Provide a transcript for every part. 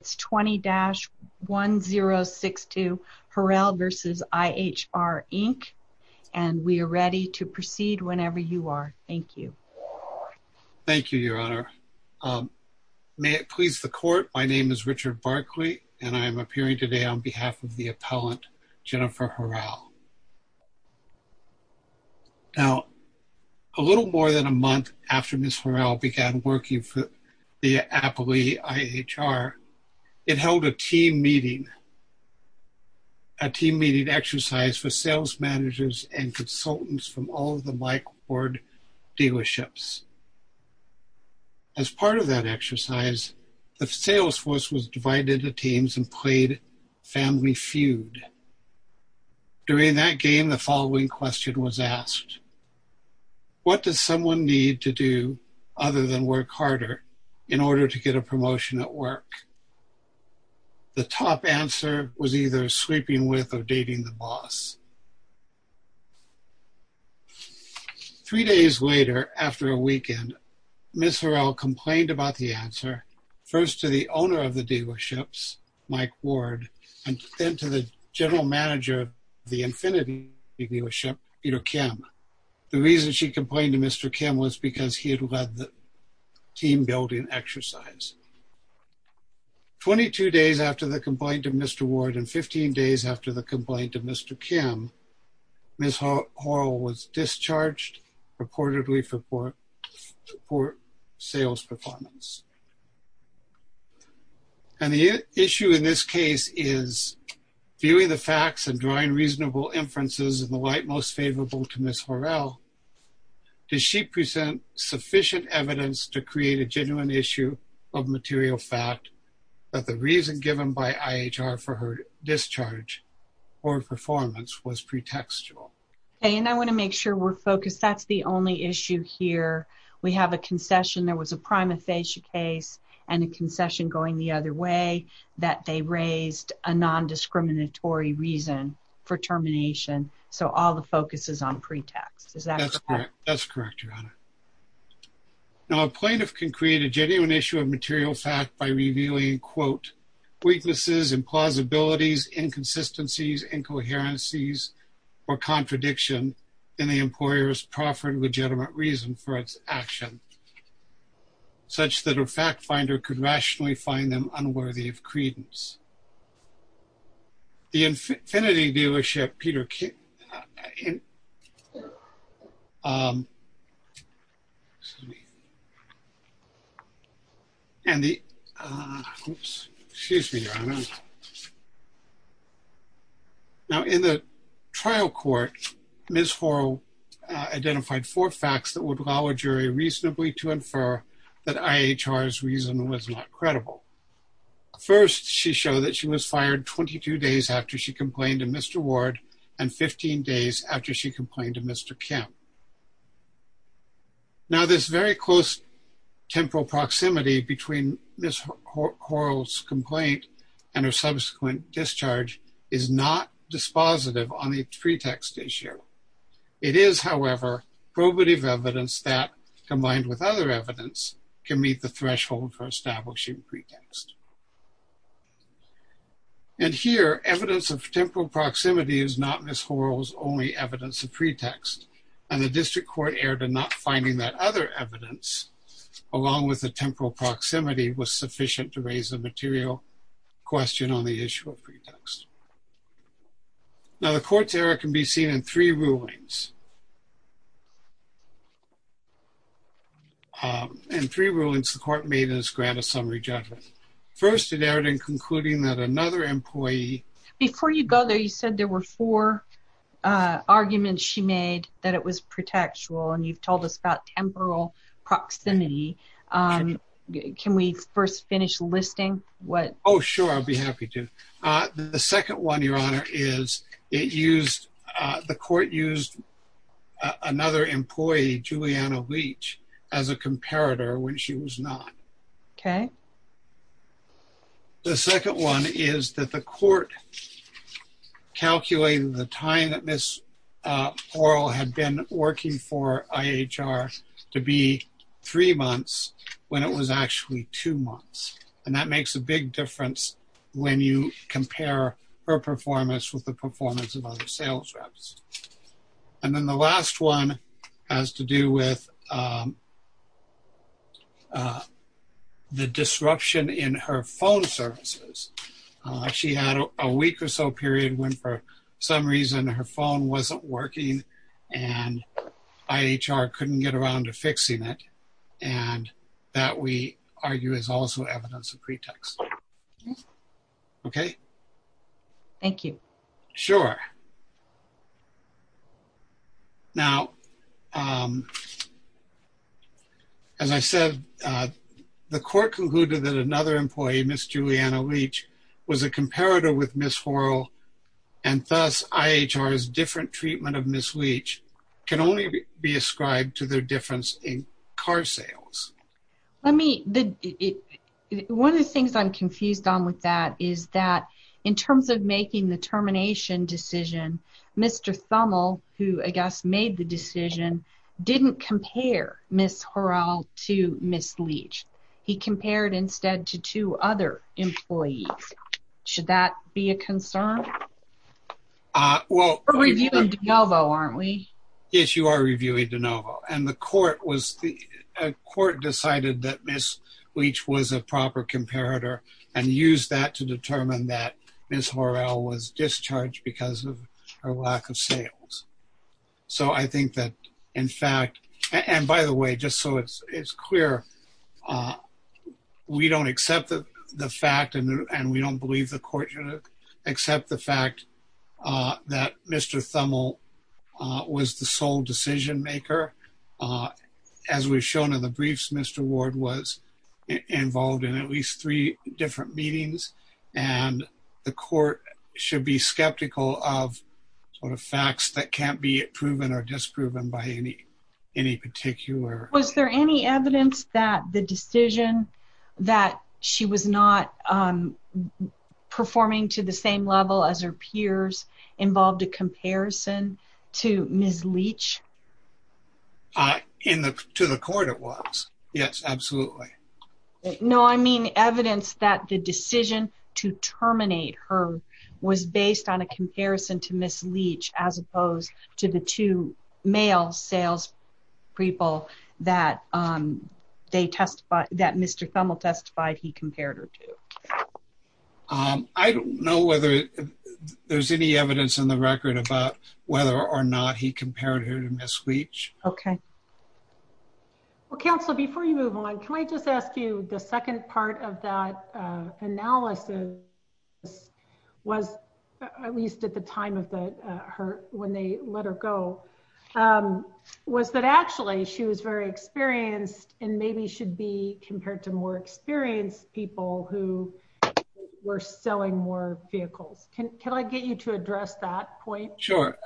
It's 20-1062 Horal v. IHR, Inc., and we are ready to proceed whenever you are. Thank you. Thank you, Your Honor. May it please the Court, my name is Richard Barkley, and I am appearing today on behalf of the appellant, Jennifer Horal. Now, a little more than a month after Ms. Horal began working for the appellee, IHR, it held a team meeting, a team meeting exercise for sales managers and consultants from all of the Mike Ward dealerships. As part of that exercise, the sales force was divided into teams and played family feud. During that game, the following question was asked. What does someone need to do other than work harder in order to get a promotion at work? The top answer was either sleeping with or dating the boss. Three days later, after a weekend, Ms. Horal complained about the answer, first to the owner of the dealerships, Mike Ward, and then to the general manager of the Infinity dealership, Ido Kim. The reason she complained to Mr. Kim was because he had led the team building exercise. Twenty-two days after the complaint of Mr. Ward and 15 days after the complaint of Mr. Kim, Ms. Horal was discharged purportedly for poor sales performance. And the issue in this case is, viewing the facts and drawing reasonable inferences in the light most favorable to Ms. Horal, does she present sufficient evidence to create a genuine issue of material fact that the reason given by IHR for her discharge or performance was pretextual? And I want to make sure we're focused. That's the only issue here. We have a concession. There was a prima facie case and a concession going the other way that they raised a non-discriminatory reason for termination. So all the focus is on pretext. Is that correct? Now, a plaintiff can create a genuine issue of material fact by revealing, quote, weaknesses, implausibilities, inconsistencies, incoherencies, or contradiction in the employer's proffered legitimate reason for its action, such that a fact finder could rationally find them unworthy of credence. The Infinity Dealership, Peter Kim, and the, excuse me, Your Honor. Now, in the trial court, Ms. Horal identified four facts that would allow a jury reasonably to infer that IHR's reason was not credible. First, she showed that she was fired 22 days after she complained to Mr. Ward and 15 days after she complained to Mr. Kim. Now, this very close temporal proximity between Ms. Horal's complaint and her subsequent discharge is not dispositive on the pretext issue. It is, however, probative evidence that, combined with other evidence, can meet the threshold for establishing pretext. And here, evidence of temporal proximity is not Ms. Horal's only evidence of pretext. And the district court erred in not finding that other evidence, along with the temporal proximity, was sufficient to raise a material question on the issue of pretext. Now, the court's error can be seen in three rulings. In three rulings, the court made in its grant of summary judgment. First, it erred in concluding that another employee… Before you go there, you said there were four arguments she made that it was pretextual, and you've told us about temporal proximity. Can we first finish listing what… Oh, sure. I'd be happy to. The second one, Your Honor, is the court used another employee, Juliana Leach, as a comparator when she was not. Okay. The second one is that the court calculated the time that Ms. Horal had been working for IHR to be three months when it was actually two months. And that makes a big difference when you compare her performance with the performance of other sales reps. And then the last one has to do with the disruption in her phone services. She had a week or so period when, for some reason, her phone wasn't working and IHR couldn't get around to fixing it. And that, we argue, is also evidence of pretext. Okay? Thank you. Sure. Now, as I said, the court concluded that another employee, Ms. Juliana Leach, was a comparator with Ms. Horal, and thus IHR's different treatment of Ms. Leach can only be ascribed to their difference in car sales. One of the things I'm confused on with that is that in terms of making the termination decision, Mr. Thummel, who, I guess, made the decision, didn't compare Ms. Horal to Ms. Leach. He compared instead to two other employees. Should that be a concern? We're reviewing DeNovo, aren't we? Yes, you are reviewing DeNovo. And the court decided that Ms. Leach was a proper comparator and used that to determine that Ms. Horal was discharged because of her lack of sales. So I think that, in fact, and by the way, just so it's clear, we don't accept the fact and we don't believe the court should accept the fact that Mr. Thummel was the sole decision maker. As we've shown in the briefs, Mr. Ward was involved in at least three different meetings, and the court should be skeptical of sort of facts that can't be proven or disproven by any particular... To the court, it was. Yes, absolutely. No, I mean evidence that the decision to terminate her was based on a comparison to Ms. Leach as opposed to the two male sales people that Mr. Thummel testified he compared her to. I don't know whether there's any evidence in the record about whether or not he compared her to Ms. Leach. Okay. Well, Counselor, before you move on, can I just ask you, the second part of that analysis was, at least at the time when they let her go, was that actually she was very experienced and maybe should be compared to more experienced people who were selling more vehicles. Can I get you to address that point? Sure.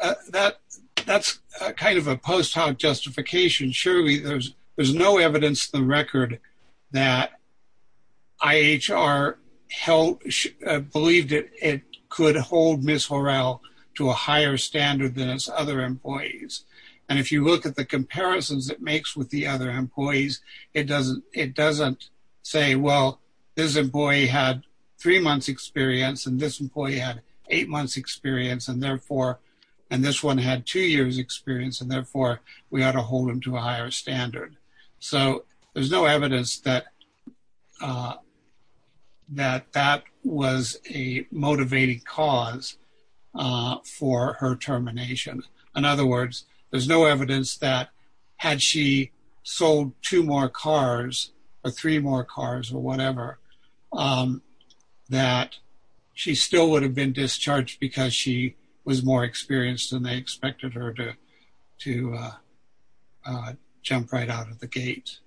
That's kind of a post hoc justification. Surely there's no evidence in the record that IHR believed it could hold Ms. Horrell to a higher standard than its other employees. And if you look at the comparisons it makes with the other employees, it doesn't say, well, this employee had three months' experience and this employee had eight months' experience, and this one had two years' experience, and therefore we ought to hold him to a higher standard. So there's no evidence that that was a motivating cause for her termination. In other words, there's no evidence that had she sold two more cars or three more cars or whatever, that she still would have been discharged because she was more experienced than they expected her to jump right out of the gate.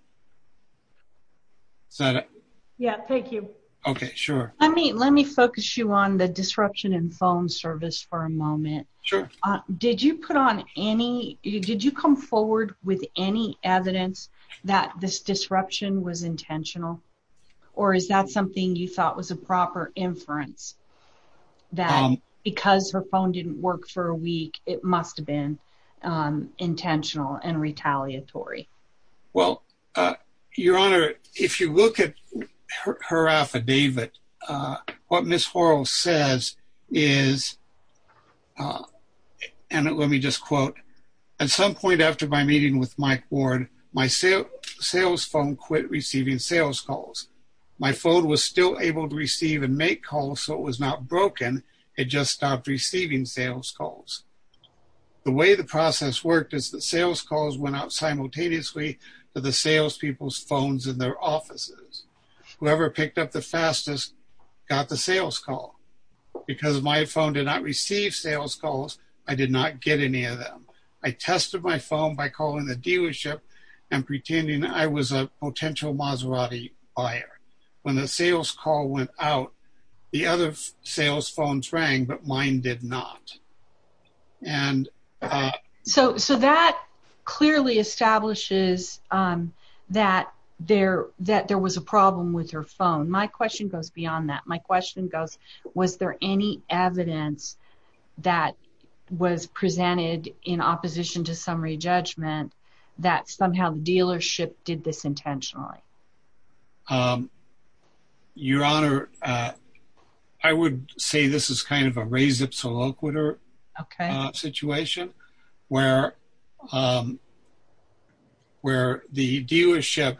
Is that it? Yeah, thank you. Okay, sure. Let me focus you on the disruption in phone service for a moment. Sure. Did you come forward with any evidence that this disruption was intentional, or is that something you thought was a proper inference that because her phone didn't work for a week, it must have been intentional and retaliatory? Well, Your Honor, if you look at her affidavit, what Ms. Horrell says is, and let me just quote, at some point after my meeting with Mike Ward, my sales phone quit receiving sales calls. My phone was still able to receive and make calls, so it was not broken. It just stopped receiving sales calls. The way the process worked is that sales calls went out simultaneously to the salespeople's phones in their offices. Whoever picked up the fastest got the sales call. Because my phone did not receive sales calls, I did not get any of them. I tested my phone by calling the dealership and pretending I was a potential Maserati buyer. When the sales call went out, the other sales phones rang, but mine did not. So that clearly establishes that there was a problem with her phone. My question goes beyond that. My question goes, was there any evidence that was presented in opposition to summary judgment that somehow the dealership did this intentionally? Your Honor, I would say this is kind of a res ipsa loquitur. Okay. Situation where the dealership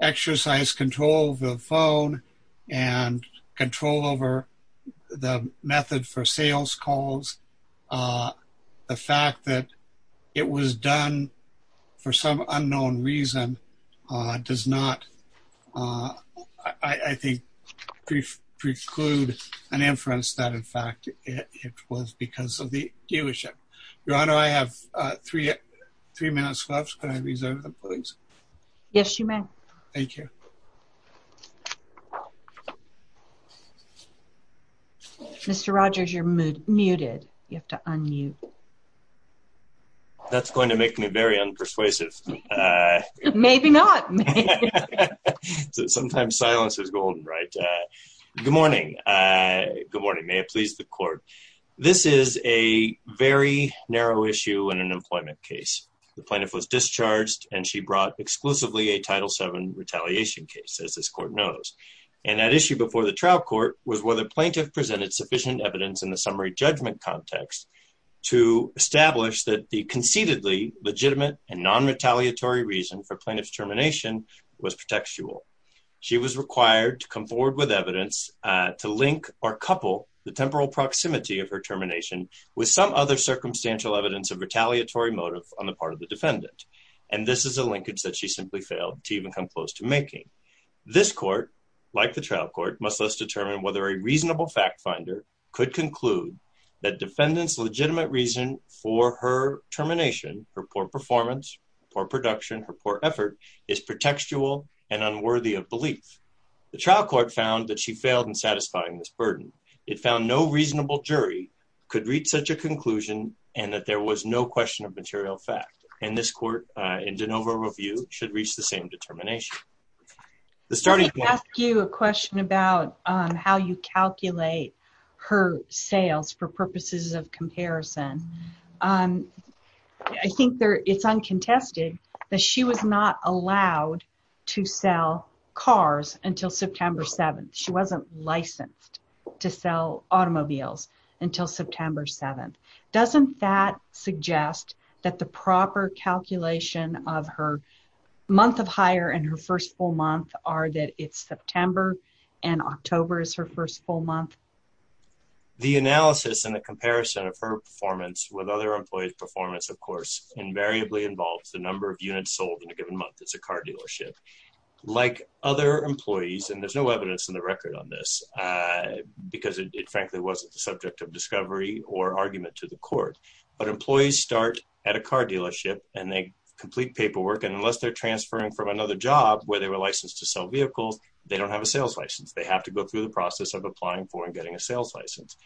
exercised control of the phone and control over the method for sales calls. The fact that it was done for some unknown reason does not, I think, preclude an inference that, in fact, it was because of the dealership. Your Honor, I have three minutes left. Can I reserve them, please? Yes, you may. Thank you. Mr. Rogers, you're muted. You have to unmute. That's going to make me very unpersuasive. Maybe not. Sometimes silence is golden, right? Good morning. Good morning. May it please the court. This is a very narrow issue in an employment case. The plaintiff was discharged and she brought exclusively a Title VII retaliation case, as this court knows. And that issue before the trial court was whether the plaintiff presented sufficient evidence in the summary judgment context to establish that the conceitedly legitimate and nonretaliatory reason for plaintiff's termination was pretextual. She was required to come forward with evidence to link or couple the temporal proximity of her termination with some other circumstantial evidence of retaliatory motive on the part of the defendant. And this is a linkage that she simply failed to even come close to making. This court, like the trial court, must thus determine whether a reasonable fact finder could conclude that defendant's legitimate reason for her termination, her poor performance, poor production, her poor effort, is pretextual and unworthy of belief. The trial court found that she failed in satisfying this burden. It found no reasonable jury could reach such a conclusion and that there was no question of material fact. And this court, in de novo review, should reach the same determination. The starting point... Let me ask you a question about how you calculate her sales for purposes of comparison. I think it's uncontested that she was not allowed to sell cars until September 7th. She wasn't licensed to sell automobiles until September 7th. Doesn't that suggest that the proper calculation of her month of hire and her first full month are that it's September and October is her first full month? The analysis and the comparison of her performance with other employees' performance, of course, invariably involves the number of units sold in a given month. It's a car dealership. Like other employees, and there's no evidence in the record on this because it frankly wasn't the subject of discovery or argument to the court. But employees start at a car dealership and they complete paperwork. And unless they're transferring from another job where they were licensed to sell vehicles, they don't have a sales license. They have to go through the process of applying for and getting a sales license.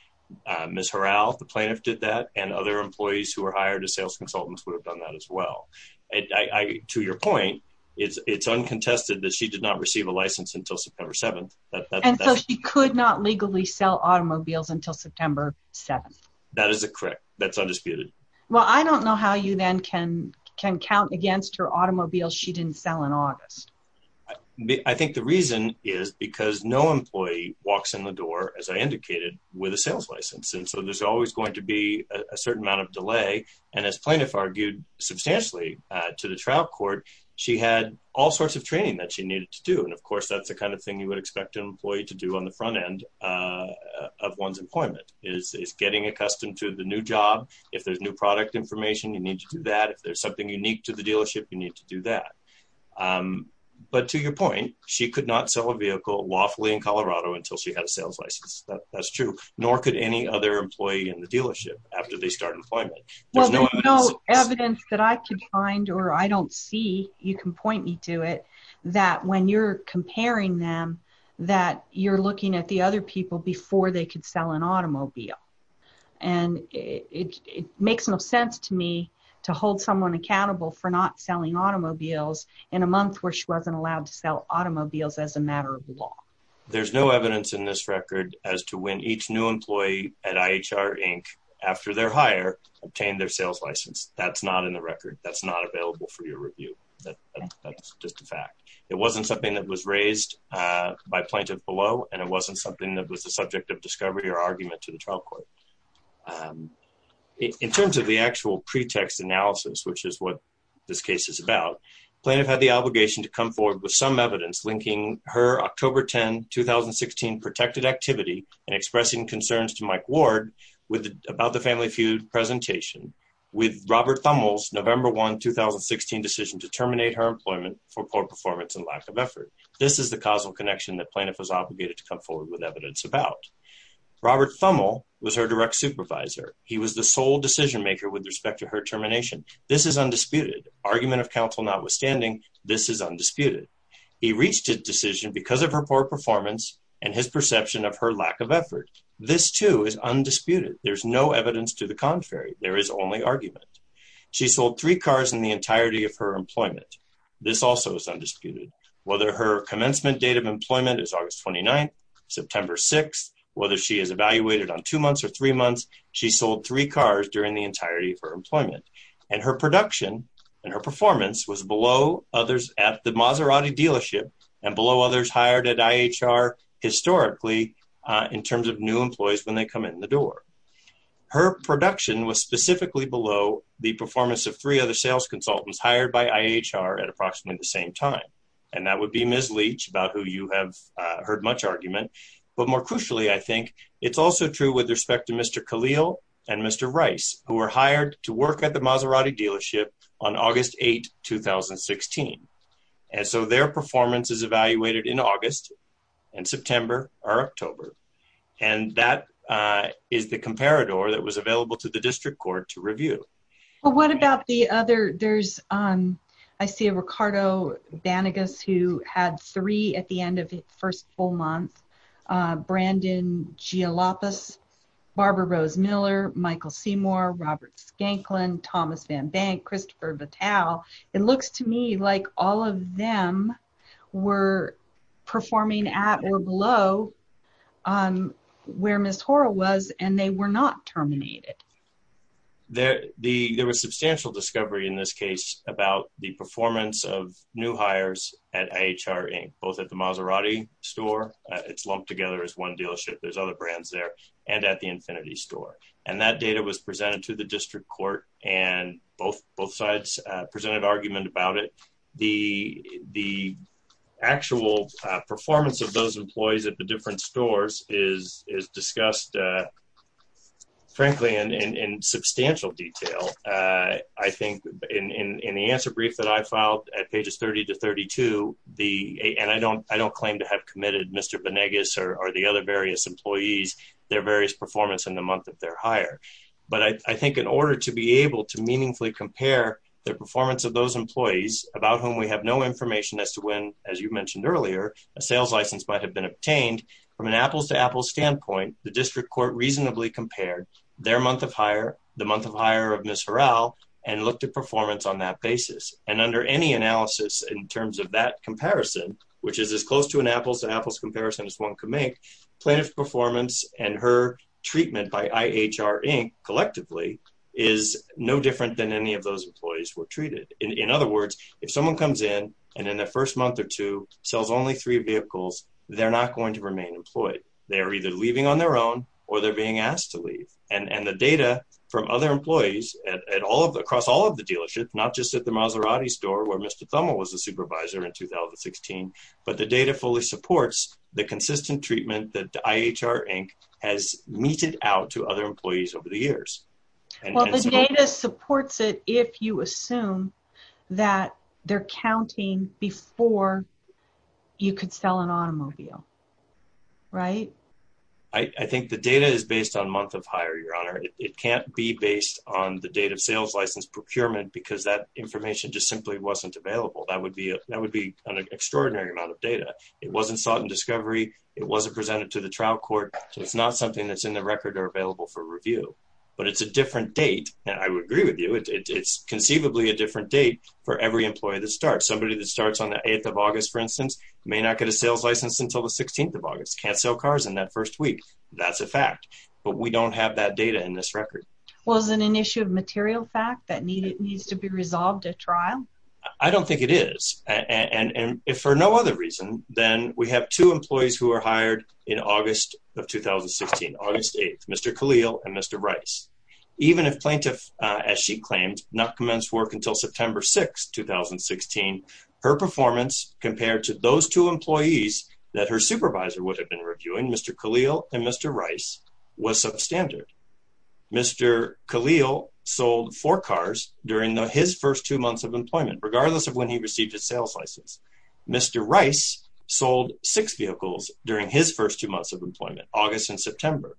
Ms. Harral, the plaintiff, did that, and other employees who were hired as sales consultants would have done that as well. To your point, it's uncontested that she did not receive a license until September 7th. And so she could not legally sell automobiles until September 7th? That is correct. That's undisputed. Well, I don't know how you then can count against her automobiles she didn't sell in August. I think the reason is because no employee walks in the door, as I indicated, with a sales license. And so there's always going to be a certain amount of delay. And as plaintiff argued substantially to the trial court, she had all sorts of training that she needed to do. And of course, that's the kind of thing you would expect an employee to do on the front end of one's employment is getting accustomed to the new job. If there's new product information, you need to do that. If there's something unique to the dealership, you need to do that. But to your point, she could not sell a vehicle lawfully in Colorado until she had a sales license. That's true. Nor could any other employee in the dealership after they start employment. Well, there's no evidence that I could find or I don't see, you can point me to it, that when you're comparing them, that you're looking at the other people before they could sell an automobile. And it makes no sense to me to hold someone accountable for not selling automobiles in a month where she wasn't allowed to sell automobiles as a matter of law. There's no evidence in this record as to when each new employee at IHR, Inc., after their hire, obtained their sales license. That's not in the record. That's not available for your review. That's just a fact. It wasn't something that was raised by plaintiff below, and it wasn't something that was the subject of discovery or argument to the trial court. In terms of the actual pretext analysis, which is what this case is about, plaintiff had the obligation to come forward with some evidence linking her October 10, 2016, protected activity and expressing concerns to Mike Ward about the family feud presentation with Robert Thummel's November 1, 2016, decision to terminate her employment for poor performance and lack of effort. This is the causal connection that plaintiff was obligated to come forward with evidence about. Robert Thummel was her direct supervisor. He was the sole decision maker with respect to her termination. This is undisputed. Argument of counsel notwithstanding, this is undisputed. He reached a decision because of her poor performance and his perception of her lack of effort. This, too, is undisputed. There's no evidence to the contrary. There is only argument. She sold three cars in the entirety of her employment. This also is undisputed. Whether her commencement date of employment is August 29, September 6, whether she is evaluated on two months or three months, she sold three cars during the entirety of her employment. And her production and her performance was below others at the Maserati dealership and below others hired at IHR historically in terms of new employees when they come in the door. Her production was specifically below the performance of three other sales consultants hired by IHR at approximately the same time. And that would be Ms. Leach, about who you have heard much argument. But more crucially, I think, it's also true with respect to Mr. Khalil and Mr. Rice, who were hired to work at the Maserati dealership on August 8, 2016. And so their performance is evaluated in August and September or October. And that is the comparador that was available to the district court to review. Well, what about the other? There's, I see Ricardo Banegas, who had three at the end of his first full month. Brandon Gialapas, Barbara Rose Miller, Michael Seymour, Robert Skanklin, Thomas Van Bank, Christopher Vitale. It looks to me like all of them were performing at or below where Ms. Hora was, and they were not terminated. There was substantial discovery in this case about the performance of new hires at IHR, both at the Maserati store. It's lumped together as one dealership. There's other brands there and at the Infinity store. And that data was presented to the district court, and both sides presented argument about it. The actual performance of those employees at the different stores is discussed, frankly, in substantial detail. I think in the answer brief that I filed at pages 30 to 32, and I don't claim to have committed Mr. Banegas or the other various employees, their various performance in the month of their hire. But I think in order to be able to meaningfully compare the performance of those employees, about whom we have no information as to when, as you mentioned earlier, a sales license might have been obtained, from an apples-to-apples standpoint, the district court reasonably compared their month of hire, the month of hire of Ms. Horale, and looked at performance on that basis. And under any analysis in terms of that comparison, which is as close to an apples-to-apples comparison as one can make, plaintiff's performance and her treatment by IHR Inc., collectively, is no different than any of those employees were treated. In other words, if someone comes in and in their first month or two sells only three vehicles, they're not going to remain employed. They're either leaving on their own or they're being asked to leave. And the data from other employees across all of the dealerships, not just at the Maserati store where Mr. Thummel was a supervisor in 2016, but the data fully supports the consistent treatment that IHR Inc. has meted out to other employees over the years. Well, the data supports it if you assume that they're counting before you could sell an automobile, right? I think the data is based on month of hire, Your Honor. It can't be based on the date of sales license procurement because that information just simply wasn't available. That would be an extraordinary amount of data. It wasn't sought in discovery. It wasn't presented to the trial court. So it's not something that's in the record or available for review. But it's a different date, and I would agree with you. It's conceivably a different date for every employee that starts. Somebody that starts on the 8th of August, for instance, may not get a sales license until the 16th of August. Can't sell cars in that first week. That's a fact. But we don't have that data in this record. Well, is it an issue of material fact that needs to be resolved at trial? I don't think it is. And if for no other reason, then we have two employees who were hired in August of 2016, August 8th, Mr. Khalil and Mr. Rice. Even if plaintiff, as she claimed, not commence work until September 6th, 2016, her performance compared to those two employees that her supervisor would have been reviewing, Mr. Khalil and Mr. Rice, was substandard. Mr. Khalil sold four cars during his first two months of employment, regardless of when he received his sales license. Mr. Rice sold six vehicles during his first two months of employment, August and September.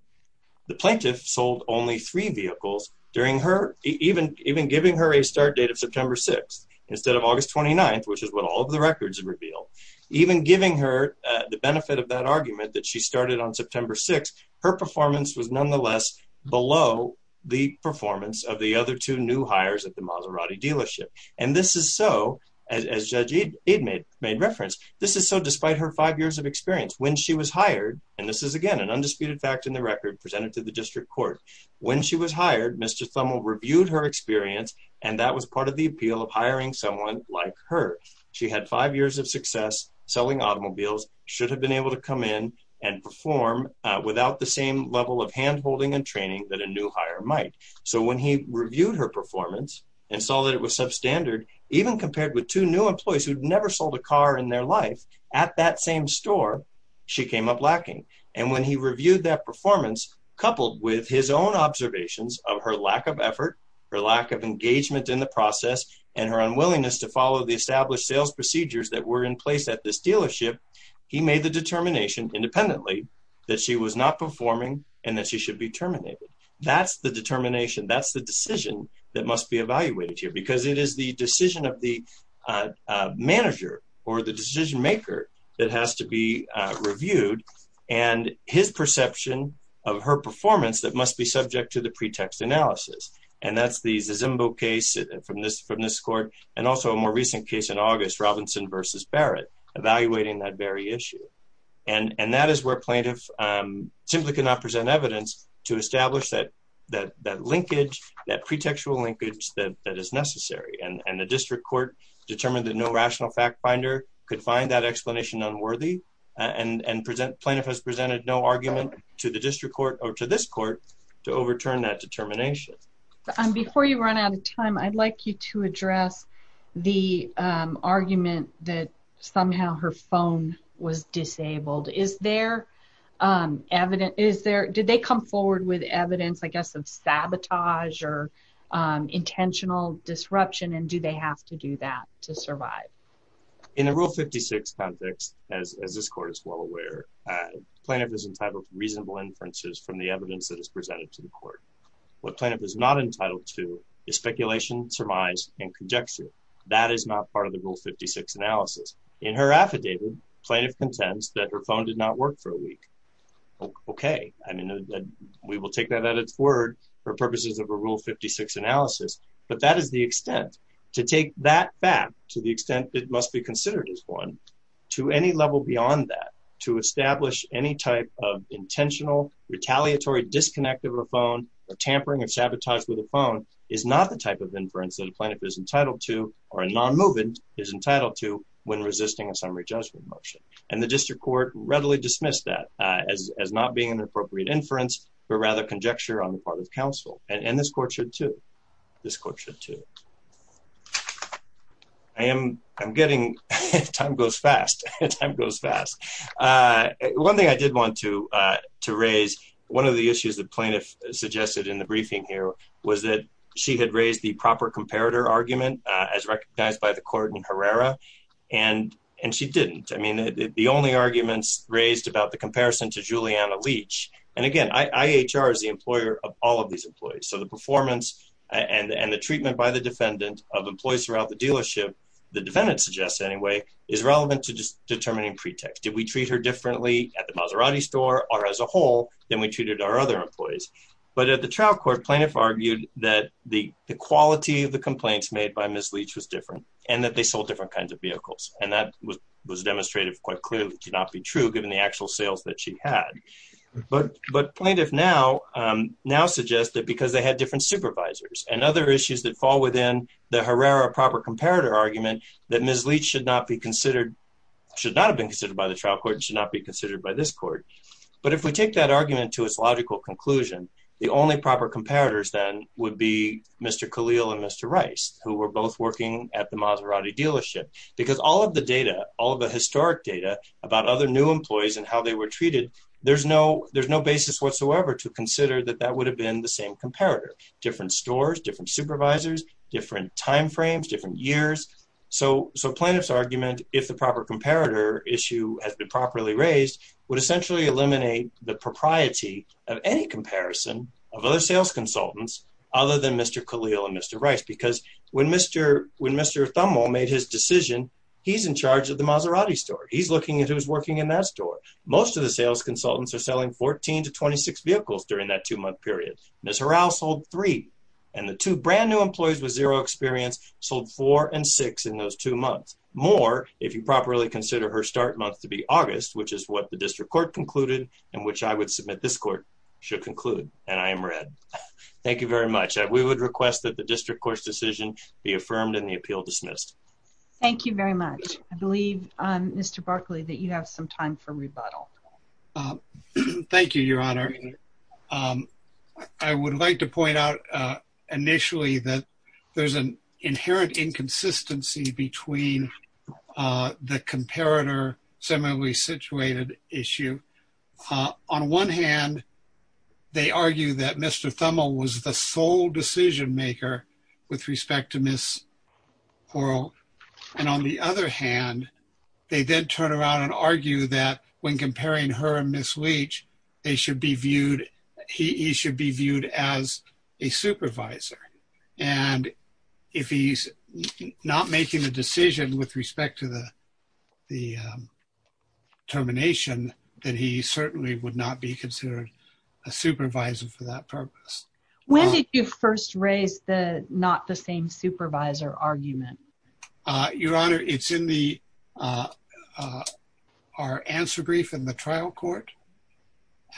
The plaintiff sold only three vehicles, even giving her a start date of September 6th, instead of August 29th, which is what all of the records reveal. Even giving her the benefit of that argument that she started on September 6th, her performance was nonetheless below the performance of the other two new hires at the Maserati dealership. And this is so, as Judge Aide made reference, this is so despite her five years of experience. When she was hired, and this is again an undisputed fact in the record presented to the district court. When she was hired, Mr. Thummel reviewed her experience, and that was part of the appeal of hiring someone like her. She had five years of success selling automobiles, should have been able to come in and perform without the same level of hand-holding and training that a new hire might. So when he reviewed her performance and saw that it was substandard, even compared with two new employees who'd never sold a car in their life at that same store, she came up lacking. And when he reviewed that performance, coupled with his own observations of her lack of effort, her lack of engagement in the process, and her unwillingness to follow the established sales procedures that were in place at this dealership, he made the determination independently that she was not performing and that she should be terminated. That's the determination, that's the decision that must be evaluated here because it is the decision of the manager or the decision maker that has to be reviewed and his perception of her performance that must be subject to the pretext analysis. And that's the Zimbo case from this court, and also a more recent case in August, Robinson versus Barrett, evaluating that very issue. And that is where plaintiff simply cannot present evidence to establish that linkage, that pretextual linkage that is necessary. And the district court determined that no rational fact finder could find that explanation unworthy, and plaintiff has presented no argument to the district court or to this court to overturn that determination. Before you run out of time, I'd like you to address the argument that somehow her phone was disabled. Did they come forward with evidence, I guess, of sabotage or intentional disruption, and do they have to do that to survive? In the Rule 56 context, as this court is well aware, plaintiff is entitled to reasonable inferences from the evidence that is presented to the court. What plaintiff is not entitled to is speculation, surmise, and conjecture. That is not part of the Rule 56 analysis. In her affidavit, plaintiff contends that her phone did not work for a week. Okay. I mean, we will take that at its word for purposes of a Rule 56 analysis, but that is the extent. To take that back to the extent it must be considered as one, to any level beyond that, to establish any type of intentional retaliatory disconnect of a phone or tampering or sabotage with a phone is not the type of inference that a plaintiff is entitled to or a nonmovement is entitled to when resisting a summary judgment motion. And the district court readily dismissed that as not being an appropriate inference, but rather conjecture on the part of counsel. And this court should, too. This court should, too. I am getting—time goes fast. Time goes fast. One thing I did want to raise, one of the issues the plaintiff suggested in the briefing here was that she had raised the proper comparator argument as recognized by the court in Herrera, and she didn't. I mean, the only arguments raised about the comparison to Juliana Leach—and again, IHR is the employer of all of these employees, so the performance and the treatment by the defendant of employees throughout the dealership, the defendant suggests anyway, is relevant to determining pretext. Did we treat her differently at the Maserati store or as a whole than we treated our other employees? But at the trial court, plaintiff argued that the quality of the complaints made by Ms. Leach was different and that they sold different kinds of vehicles. And that was demonstrated quite clearly to not be true, given the actual sales that she had. But plaintiff now suggests that because they had different supervisors and other issues that fall within the Herrera proper comparator argument, that Ms. Leach should not be considered—should not have been considered by the trial court and should not be considered by this court. But if we take that argument to its logical conclusion, the only proper comparators then would be Mr. Khalil and Mr. Rice, who were both working at the Maserati dealership. Because all of the data, all of the historic data about other new employees and how they were treated, there's no basis whatsoever to consider that that would have been the same comparator. Different stores, different supervisors, different timeframes, different years. So plaintiff's argument, if the proper comparator issue has been properly raised, would essentially eliminate the propriety of any comparison of other sales consultants other than Mr. Khalil and Mr. Rice. Because when Mr. Thummel made his decision, he's in charge of the Maserati store. He's looking at who's working in that store. Most of the sales consultants are selling 14 to 26 vehicles during that two-month period. Ms. Harral sold three. And the two brand-new employees with zero experience sold four and six in those two months. More, if you properly consider her start month to be August, which is what the district court concluded and which I would submit this court should conclude. And I am read. Thank you very much. We would request that the district court's decision be affirmed and the appeal dismissed. Thank you very much. Thank you, Your Honor. I would like to point out initially that there's an inherent inconsistency between the comparator similarly situated issue. On one hand, they argue that Mr. Thummel was the sole decision maker with respect to Ms. Harrell. And on the other hand, they did turn around and argue that when comparing her and Ms. Leach, they should be viewed. He should be viewed as a supervisor. And if he's not making a decision with respect to the termination, then he certainly would not be considered a supervisor for that purpose. When did you first raise the not the same supervisor argument? Your Honor, it's in the our answer brief in the trial court.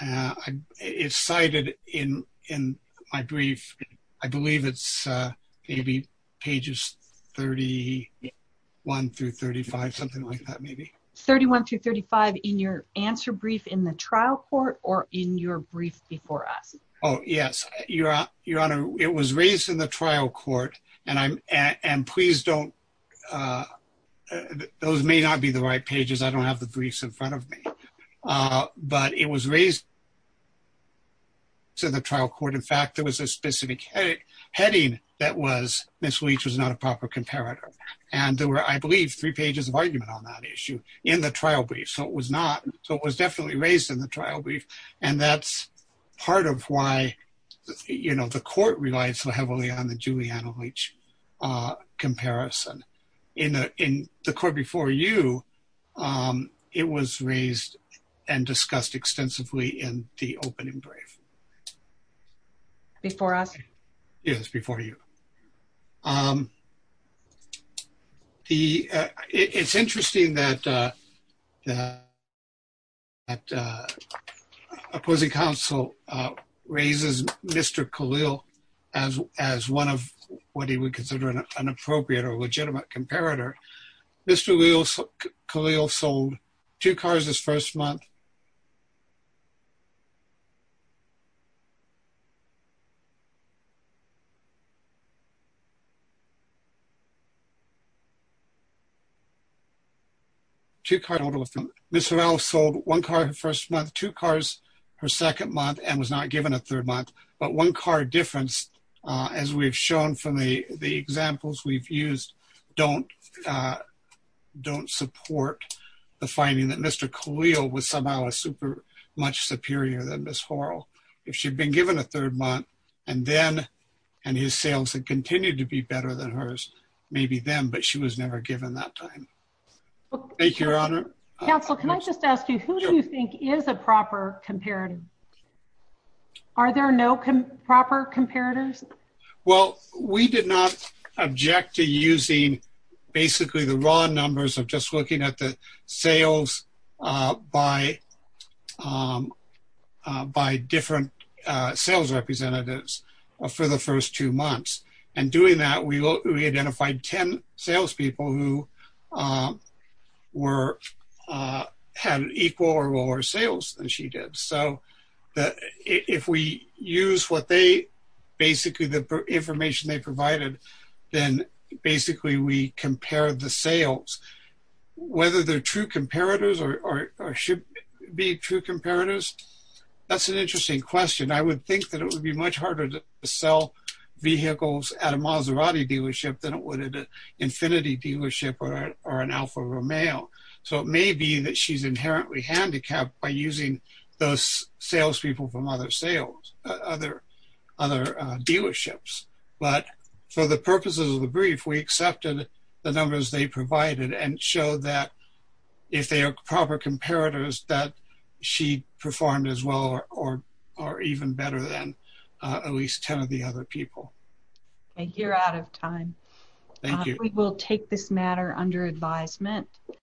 It's cited in in my brief. I believe it's maybe pages 31 through 35, something like that. Maybe 31 to 35 in your answer brief in the trial court or in your brief before us. Oh, yes, Your Honor. It was raised in the trial court. And I'm and please don't. Those may not be the right pages. I don't have the briefs in front of me. But it was raised. So the trial court, in fact, there was a specific heading that was Ms. Leach was not a proper comparator. And there were, I believe, three pages of argument on that issue in the trial brief. So it was not. So it was definitely raised in the trial brief. And that's part of why, you know, the court relied so heavily on the Juliana Leach comparison in the court before you. It was raised and discussed extensively in the opening brief. Before us? Yes, before you. It's interesting that opposing counsel raises Mr. Khalil as one of what he would consider an appropriate or legitimate comparator. Mr. Khalil sold two cars this first month. Two cars. Mr. Khalil was somehow a super much superior than Ms. Horrell. If she'd been given a third month and then, and his sales had continued to be better than hers, maybe them. But she was never given that time. Thank you, Your Honor. Counsel, can I just ask you, who do you think is a proper comparator? Are there no proper comparators? Well, we did not object to using basically the raw numbers of just looking at the sales by different sales representatives for the first two months. And doing that, we identified 10 salespeople who were, had equal or lower sales than she did. So if we use what they, basically the information they provided, then basically we compare the sales, whether they're true comparators or should be true comparators. That's an interesting question. I would think that it would be much harder to sell vehicles at a Maserati dealership than it would at an Infiniti dealership or an Alfa Romeo. So it may be that she's inherently handicapped by using those salespeople from other sales, other dealerships. But for the purposes of the brief, we accepted the numbers they provided and showed that if they are proper comparators, that she performed as well or even better than at least 10 of the other people. Thank you. You're out of time. Thank you. We will take this matter under advisement.